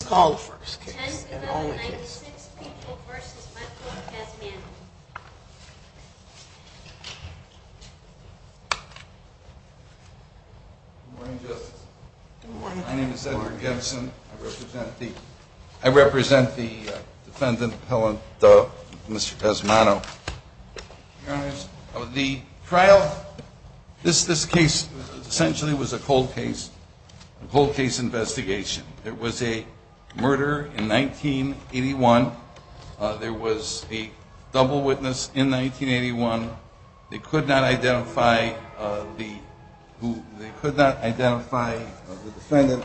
Good morning, Justice. My name is Edward Gibson. I represent the defendant, Mr. Cosmano. The trial, this case essentially was a cold case investigation. It was a murder in 1981. There was a double witness in 1981. They could not identify the defendant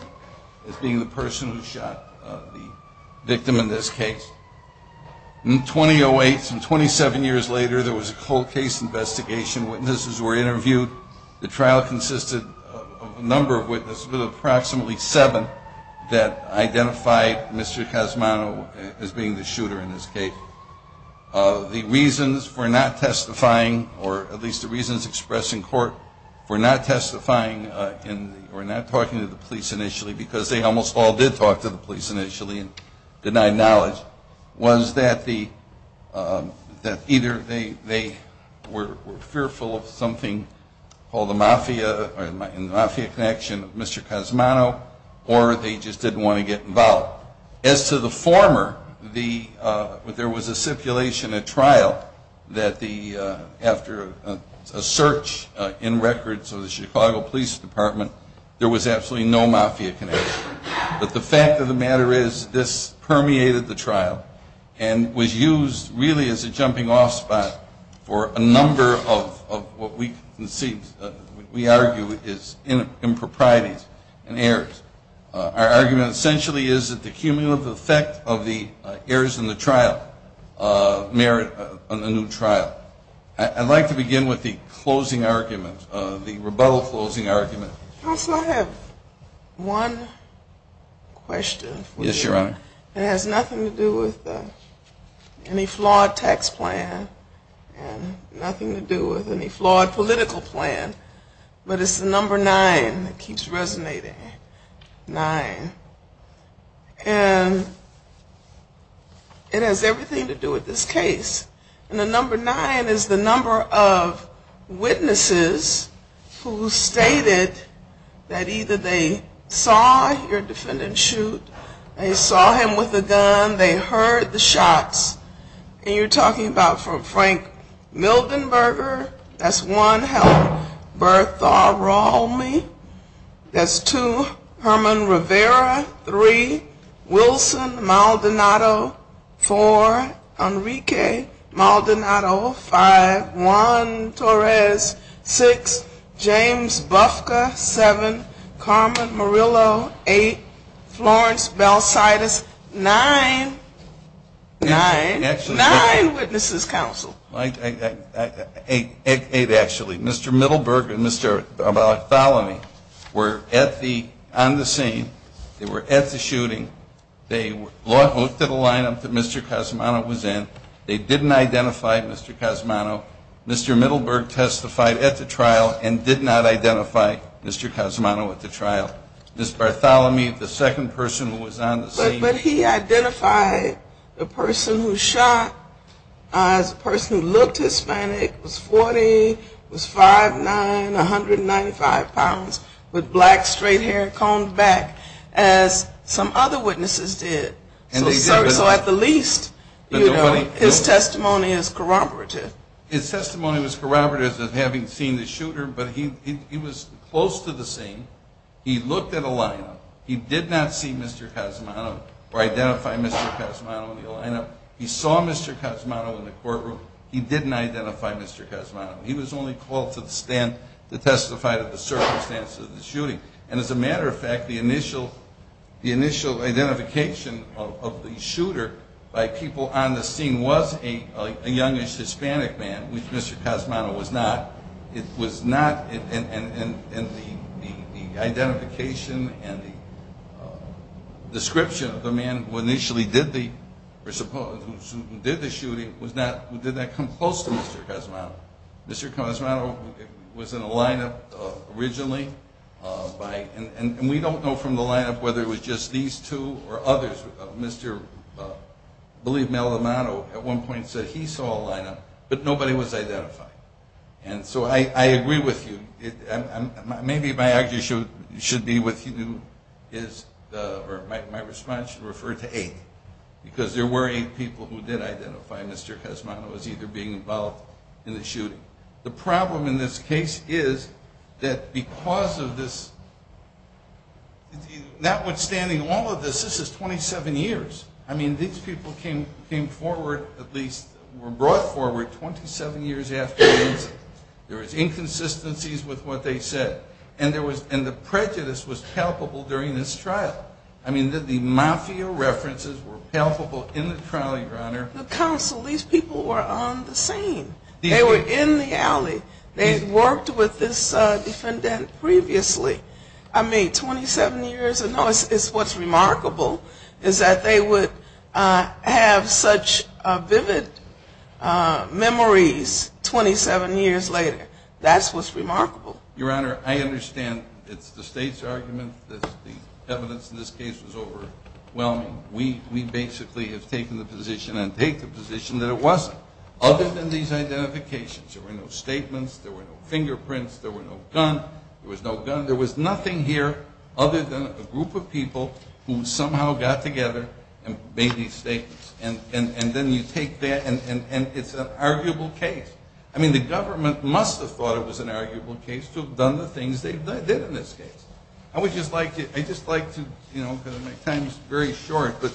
as being the person who shot the victim in this case. In 2008, some 27 years later, there was a cold case investigation. Witnesses were interviewed. The trial consisted of a number of witnesses, but approximately seven that identified Mr. Cosmano as being the shooter in this case. The reasons for not testifying, or at least the reasons expressed in court for not testifying or not talking to the police initially, because they almost all did talk to the police initially and denied knowledge, was that either they were fearful of something called the mafia connection of Mr. Cosmano, or they just didn't want to get involved. As to the former, there was a stipulation at trial that after a search in records of the Chicago Police Department, there was absolutely no mafia connection. But the fact of the matter is, this permeated the trial and was used really as a jumping off spot for a number of what we argue is improprieties and errors. Our argument essentially is that the cumulative effect of the errors in the trial merit a new trial. I'd like to begin with the closing argument, the rebuttal closing argument. Counsel, I have one question for you. It has nothing to do with any flawed tax plan and nothing to do with any flawed political plan, but it's the number nine that keeps resonating. Nine. And it has everything to do with this case. And the number nine is the number of witnesses who stated that either they saw your defendant shoot, they saw him with a gun, they heard the shots. And you're talking about from Frank Mildenberger, that's one, hell, Bertha Rallme, that's two, Herman Rivera, that's three. Wilson, Maldonado, four. Enrique Maldonado, five. Juan Torres, six. James Bufka, seven. Carmen Murillo, eight. Florence Belsitis, nine. Nine. Nine witnesses, counsel. Eight, actually. Mr. Middleberg and Mr. Bartholomew were on the scene. They were at the shooting. They looked at the line-up that Mr. Cosmano was in. They didn't identify Mr. Cosmano. Mr. Middleberg testified at the trial and did not identify Mr. Cosmano at the trial. Ms. Bartholomew, the second person who was on the scene. But he identified the person who shot as a person who looked Hispanic, was 40, was 5'9", 195 pounds, with black straight hair, combed back, as some other witnesses did. So at the least, you know, his testimony is corroborative. His testimony was corroborative of having seen the shooter, but he was close to the scene. He looked at a line-up. He did not see Mr. Cosmano or identify Mr. Cosmano in the line-up. He saw Mr. Cosmano in the courtroom. He didn't identify Mr. Cosmano. He was only called to the stand to testify to the circumstances of the shooting. And as a matter of fact, the initial identification of the shooter by people on the scene was a youngish Hispanic man, which Mr. Cosmano was not. And the identification and the description of the man who initially did the shooting did not come close to Mr. Cosmano. Mr. Cosmano was in a line-up originally, and we don't know from the line-up whether it was just these two or others. I believe Mr. Malamado at one point said he saw a line-up, but nobody was identified. And so I agree with you. My response should refer to eight, because there were eight people who did identify Mr. Cosmano as either being involved in the shooting. The problem in this case is that because of this, notwithstanding all of this, this is 27 years. I mean, these people came forward, at least were brought forward 27 years after the incident. There was inconsistencies with what they said. And the prejudice was palpable during this trial. I mean, the mafia references were palpable in the trial, Your Honor. These people were on the scene. They were in the alley. They had worked with this defendant previously. I mean, 27 years ago. It's what's remarkable is that they would have such vivid memories 27 years later. That's what's remarkable. Your Honor, I understand it's the State's argument that the evidence in this case was overwhelming. We basically have taken the position and take the position that it wasn't. Other than these identifications, there were no statements, there were no fingerprints, there were no gun, there was no gun. I would just like to, you know, because my time is very short, but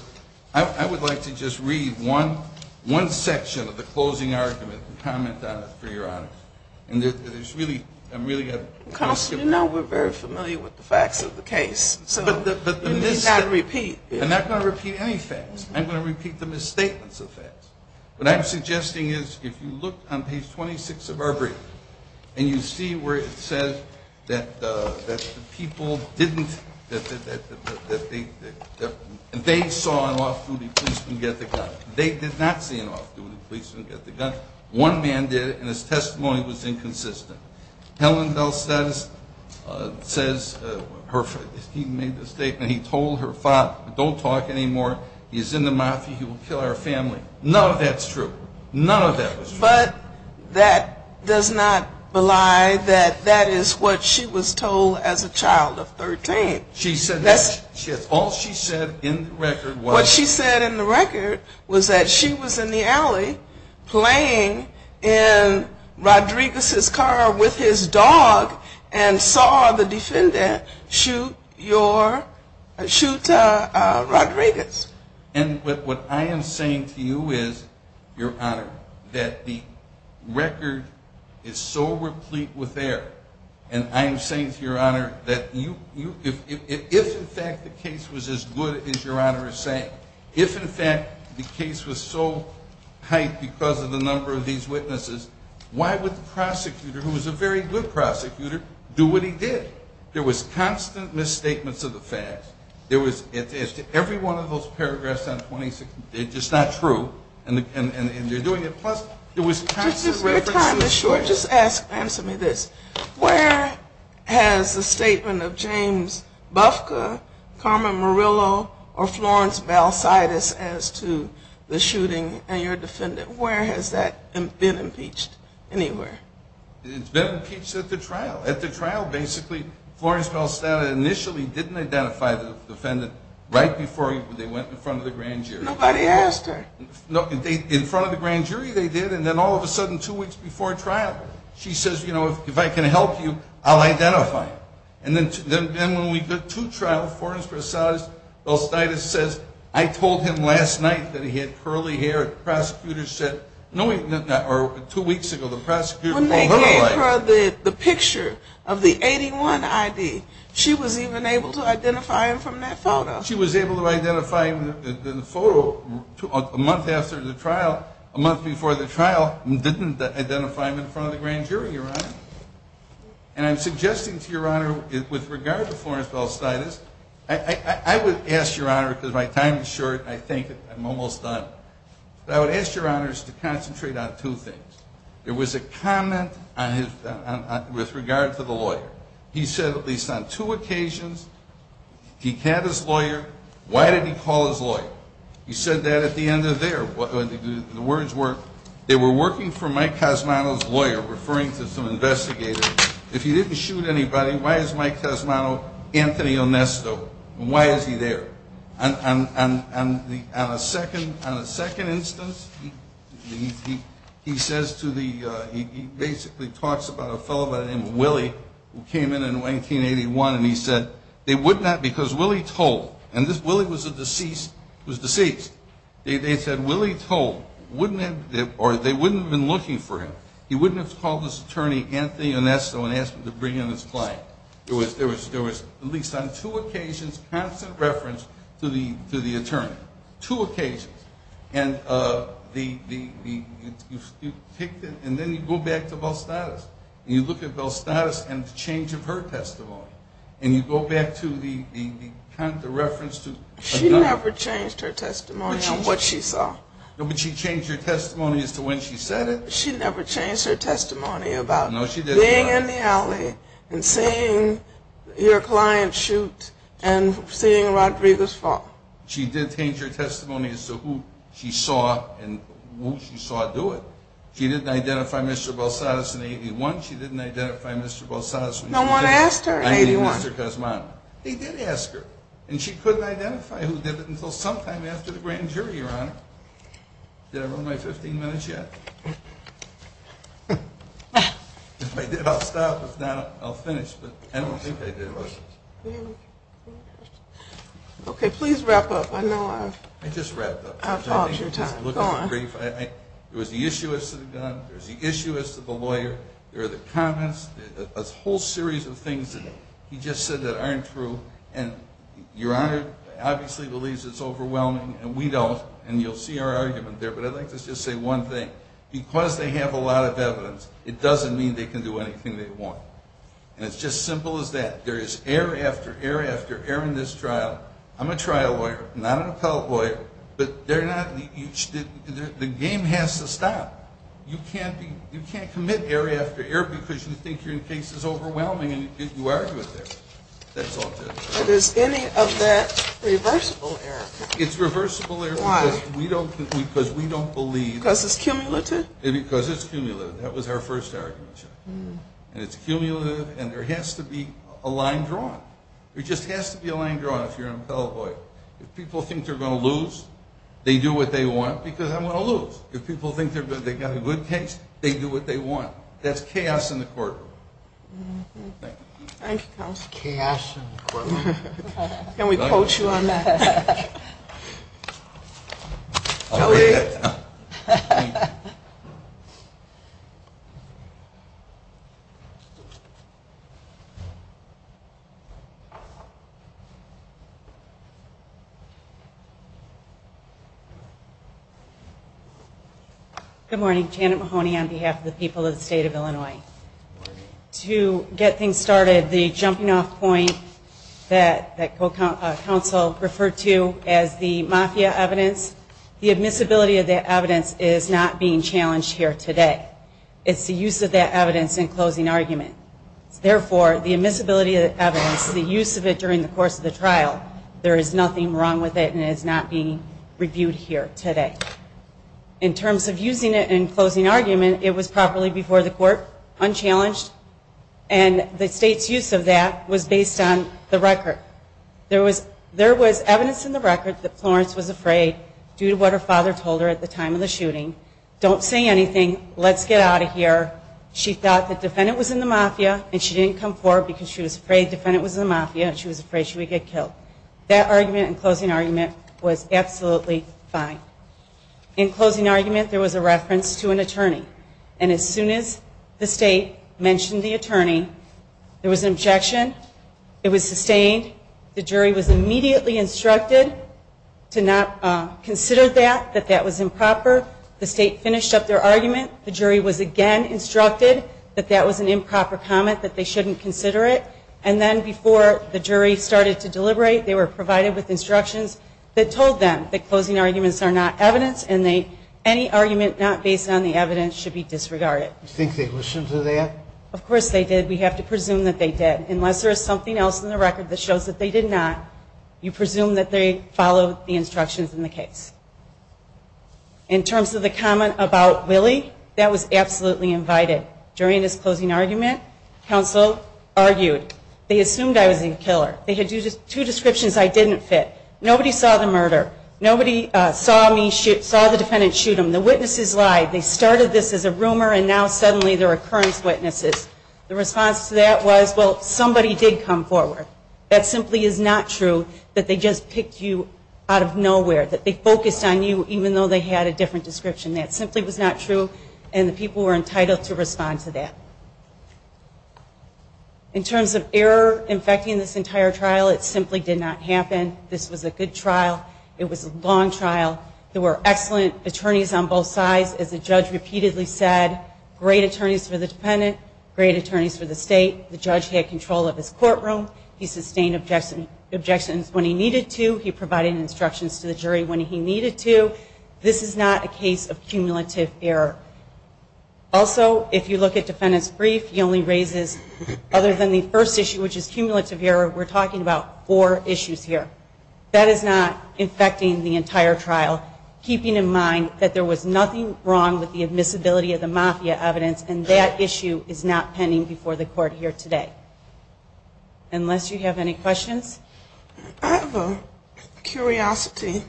I would like to just read one section of the closing argument and comment on it for Your Honor. And there's really, I'm really going to... Counsel, you know we're very familiar with the facts of the case. So you need not repeat. I'm not going to repeat any facts. I'm going to repeat the misstatements of facts. What I'm suggesting is if you look on page 26 of our briefing and you see where it says that the people didn't, that they saw an off-duty policeman get the gun. Don't talk anymore. He's in the mafia. He will kill our family. None of that's true. None of that was true. But that does not belie that that is what she was told as a child of 13. All she said in the record was... And what I am saying to you is, Your Honor, that the record is so replete with error. And I am saying to Your Honor that if in fact the case was as good as Your Honor is saying, if in fact the case was so hyped because of the number of these witnesses, why would the prosecutor, who was a very good prosecutor, do what he did? There was constant misstatements of the facts. There was, as to every one of those paragraphs on 26, they're just not true. And they're doing it, plus there was constant reference to the... Your time is short. Just answer me this. Where has the statement of James Bufka, Carmen Murillo, or Florence Balsitis as to the shooting and your defendant, where has that been impeached? Anywhere? It's been impeached at the trial. At the trial, basically, Florence Balsitis initially didn't identify the defendant right before they went in front of the grand jury. Nobody asked her. In front of the grand jury they did, and then all of a sudden two weeks before trial, she says, you know, if I can help you, I'll identify him. And then when we go to trial, Florence Balsitis says, I told him last night that he had curly hair. When they gave her the picture of the 81 ID, she was even able to identify him from that photo. She was able to identify him in the photo a month after the trial, a month before the trial, and didn't identify him in front of the grand jury, Your Honor. And I'm suggesting to Your Honor, with regard to Florence Balsitis, I would ask Your Honor, because my time is short and I think I'm almost done, but I would ask Your Honors to concentrate on two things. There was a comment with regard to the lawyer. He said at least on two occasions, he had his lawyer. Why did he call his lawyer? He said that at the end of there. The words were, they were working for Mike Cosmano's lawyer, referring to some investigators. If he didn't shoot anybody, why is Mike Cosmano Anthony Onesto, and why is he there? And a second instance, he says to the, he basically talks about a fellow by the name of Willie, who came in in 1981, and he said, they wouldn't have, because Willie told, and Willie was deceased. They said Willie told, or they wouldn't have been looking for him. He wouldn't have called his attorney Anthony Onesto and asked him to bring in his client. There was, at least on two occasions, constant reference to the attorney. Two occasions. And the, you picked it, and then you go back to Balsitis, and you look at Balsitis and the change of her testimony. And you go back to the reference to a gun. She never changed her testimony on what she saw. But she changed her testimony as to when she said it. She never changed her testimony about being in the alley and seeing your client shoot and seeing Rodriguez fall. She did change her testimony as to who she saw and who she saw do it. She didn't identify Mr. Balsitis in 1981. She didn't identify Mr. Balsitis when she did it. No one asked her in 1981. I mean, Mr. Cosmano. They did ask her. And she couldn't identify who did it until sometime after the grand jury, Your Honor. Did I run my 15 minutes yet? If I did, I'll stop. If not, I'll finish. But I don't think I did. Okay, please wrap up. I know I've... I just wrapped up. I'll pause your time. Go on. There was the issuance of the gun. There was the issuance of the lawyer. There were the comments. A whole series of things that he just said that aren't true. And Your Honor obviously believes it's overwhelming, and we don't. And you'll see our argument there. But I'd like to just say one thing. Because they have a lot of evidence, it doesn't mean they can do anything they want. And it's just simple as that. There is error after error after error in this trial. I'm a trial lawyer, not an appellate lawyer. But they're not... the game has to stop. You can't commit error after error because you think your case is overwhelming and you argue it there. But is any of that reversible error? It's reversible error because we don't believe... Because it's cumulative? Because it's cumulative. That was our first argument. And it's cumulative, and there has to be a line drawn. There just has to be a line drawn if you're an appellate lawyer. If people think they're going to lose, they do what they want because I'm going to lose. If people think they've got a good case, they do what they want. That's chaos in the courtroom. Thank you, counsel. It's chaos in the courtroom. Can we quote you on that? Good morning. Janet Mahoney on behalf of the people of the state of Illinois. To get things started, the jumping off point that counsel referred to as the mafia evidence, the admissibility of that evidence is not being challenged here today. It's the use of that evidence in closing argument. Therefore, the admissibility of that evidence, the use of it during the course of the trial, there is nothing wrong with it and it is not being reviewed here today. In terms of using it in closing argument, it was properly before the court, unchallenged, and the state's use of that was based on the record. There was evidence in the record that Florence was afraid due to what her father told her at the time of the shooting, don't say anything, let's get out of here. She thought the defendant was in the mafia and she didn't come forward because she was afraid the defendant was in the mafia and she was afraid she would get killed. That argument in closing argument was absolutely fine. In closing argument, there was a reference to an attorney. And as soon as the state mentioned the attorney, there was an objection. It was sustained. The jury was immediately instructed to not consider that, that that was improper. The state finished up their argument. The jury was again instructed that that was an improper comment, that they shouldn't consider it. And then before the jury started to deliberate, they were provided with instructions that told them that closing arguments are not evidence and any argument not based on the evidence should be disregarded. You think they listened to that? Of course they did. We have to presume that they did. Unless there is something else in the record that shows that they did not, you presume that they followed the instructions in the case. In terms of the comment about Willie, that was absolutely invited. During his closing argument, counsel argued, they assumed I was the killer. They had two descriptions I didn't fit. Nobody saw the murder. Nobody saw the defendant shoot him. The witnesses lied. They started this as a rumor and now suddenly there are current witnesses. The response to that was, well, somebody did come forward. That simply is not true, that they just picked you out of nowhere, that they focused on you even though they had a different description. That simply was not true, and the people were entitled to respond to that. In terms of error infecting this entire trial, it simply did not happen. This was a good trial. It was a long trial. There were excellent attorneys on both sides. As the judge repeatedly said, great attorneys for the defendant, great attorneys for the state. The judge had control of his courtroom. He sustained objections when he needed to. He provided instructions to the jury when he needed to. This is not a case of cumulative error. Also, if you look at defendant's brief, he only raises, other than the first issue which is cumulative error, we're talking about four issues here. That is not infecting the entire trial, keeping in mind that there was nothing wrong with the admissibility of the mafia evidence, and that issue is not pending before the court here today. Unless you have any questions. I have a curiosity.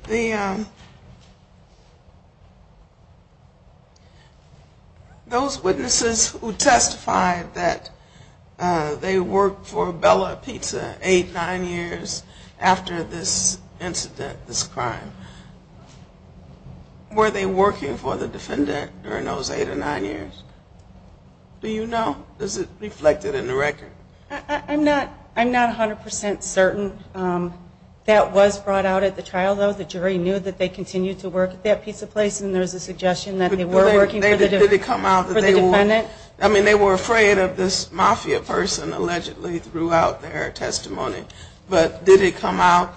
Those witnesses who testified that they worked for Bella Pizza eight, nine years after this incident, this crime, were they working for the defendant during those eight or nine years? Do you know? Is it reflected in the record? I'm not 100% certain that was brought out at the trial, though. The jury knew that they continued to work at that pizza place, and there was a suggestion that they were working for the defendant. I mean, they were afraid of this mafia person, allegedly, throughout their testimony. But did it come out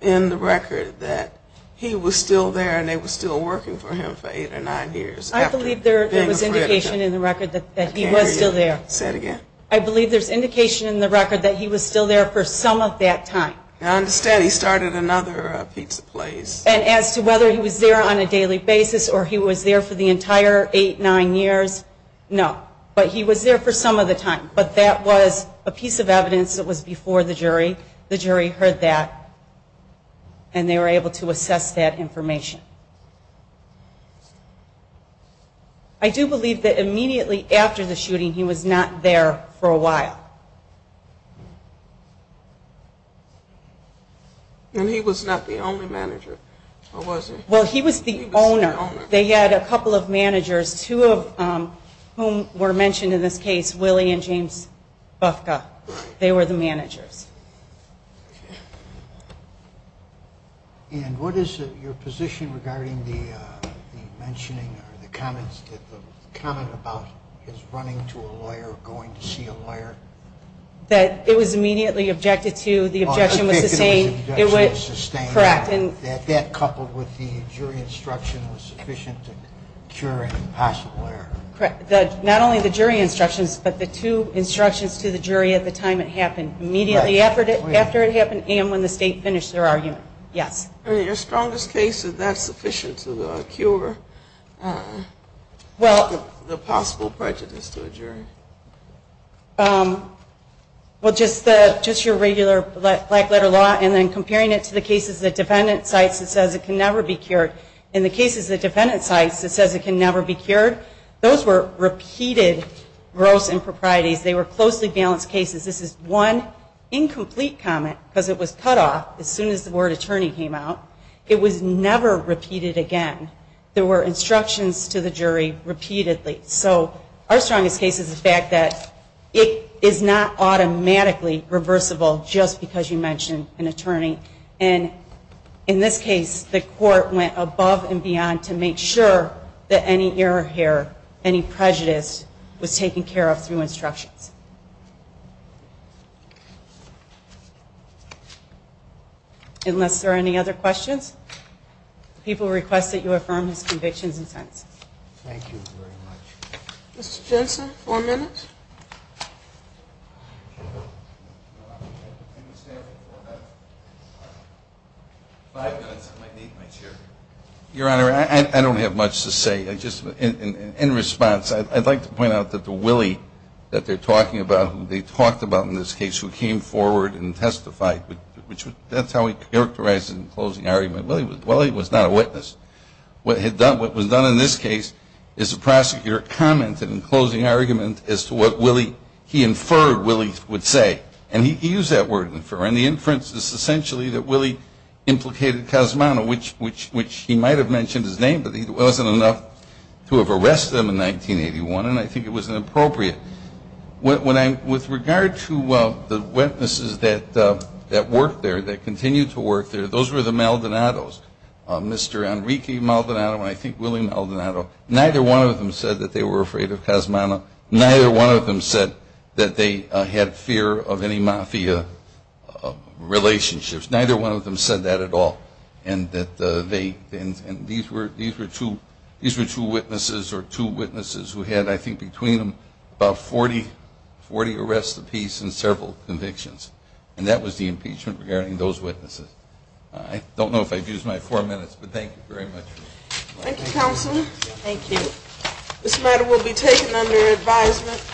in the record that he was still there and they were still working for him for eight or nine years? I believe there was indication in the record that he was still there. Say it again. I believe there's indication in the record that he was still there for some of that time. I understand he started another pizza place. And as to whether he was there on a daily basis or he was there for the entire eight, nine years, no. But he was there for some of the time. But that was a piece of evidence that was before the jury. The jury heard that, and they were able to assess that information. I do believe that immediately after the shooting, he was not there for a while. And he was not the only manager, or was he? Well, he was the owner. He was the owner. They had a couple of managers, two of whom were mentioned in this case, They were the managers. And what is your position regarding the mentioning or the comments, the comment about his running to a lawyer or going to see a lawyer? That it was immediately objected to. The objection was sustained. It was sustained. Correct. And that coupled with the jury instruction was sufficient to cure an impossible error. Correct. Not only the jury instructions, but the two instructions to the jury at the time it happened. Immediately after it happened and when the state finished their argument. Yes. Your strongest case, is that sufficient to cure the possible prejudice to a jury? Well, just your regular black letter law, and then comparing it to the cases the defendant cites that says it can never be cured. In the cases the defendant cites that says it can never be cured, those were repeated gross improprieties. They were closely balanced cases. This is one incomplete comment, because it was cut off as soon as the word attorney came out. It was never repeated again. There were instructions to the jury repeatedly. So our strongest case is the fact that it is not automatically reversible just because you mention an attorney. And in this case, the court went above and beyond to make sure that any error here, any prejudice was taken care of through instructions. Unless there are any other questions, people request that you affirm his convictions and sentence. Thank you very much. Mr. Jensen, four minutes. Five minutes, I might need my chair. Your Honor, I don't have much to say. In response, I'd like to point out that the Willie that they're talking about, who they talked about in this case, who came forward and testified, that's how he characterized it in the closing argument. Willie was not a witness. What was done in this case is the prosecutor commented in the closing argument as to what Willie, he inferred Willie would say. And he used that word infer. And the inference is essentially that Willie implicated Cosmano, which he might have mentioned his name, but it wasn't enough to have arrested him in 1981. And I think it was inappropriate. With regard to the witnesses that worked there, that continued to work there, those were the Maldonados, Mr. Enrique Maldonado and I think Willie Maldonado. Neither one of them said that they were afraid of Cosmano. Neither one of them said that they had fear of any mafia relationships. Neither one of them said that at all. And these were two witnesses or two witnesses who had, I think, between them about 40 arrests apiece and several convictions. And that was the impeachment regarding those witnesses. I don't know if I've used my four minutes, but thank you very much. Thank you, Counsel. Thank you. This matter will be taken under advisement.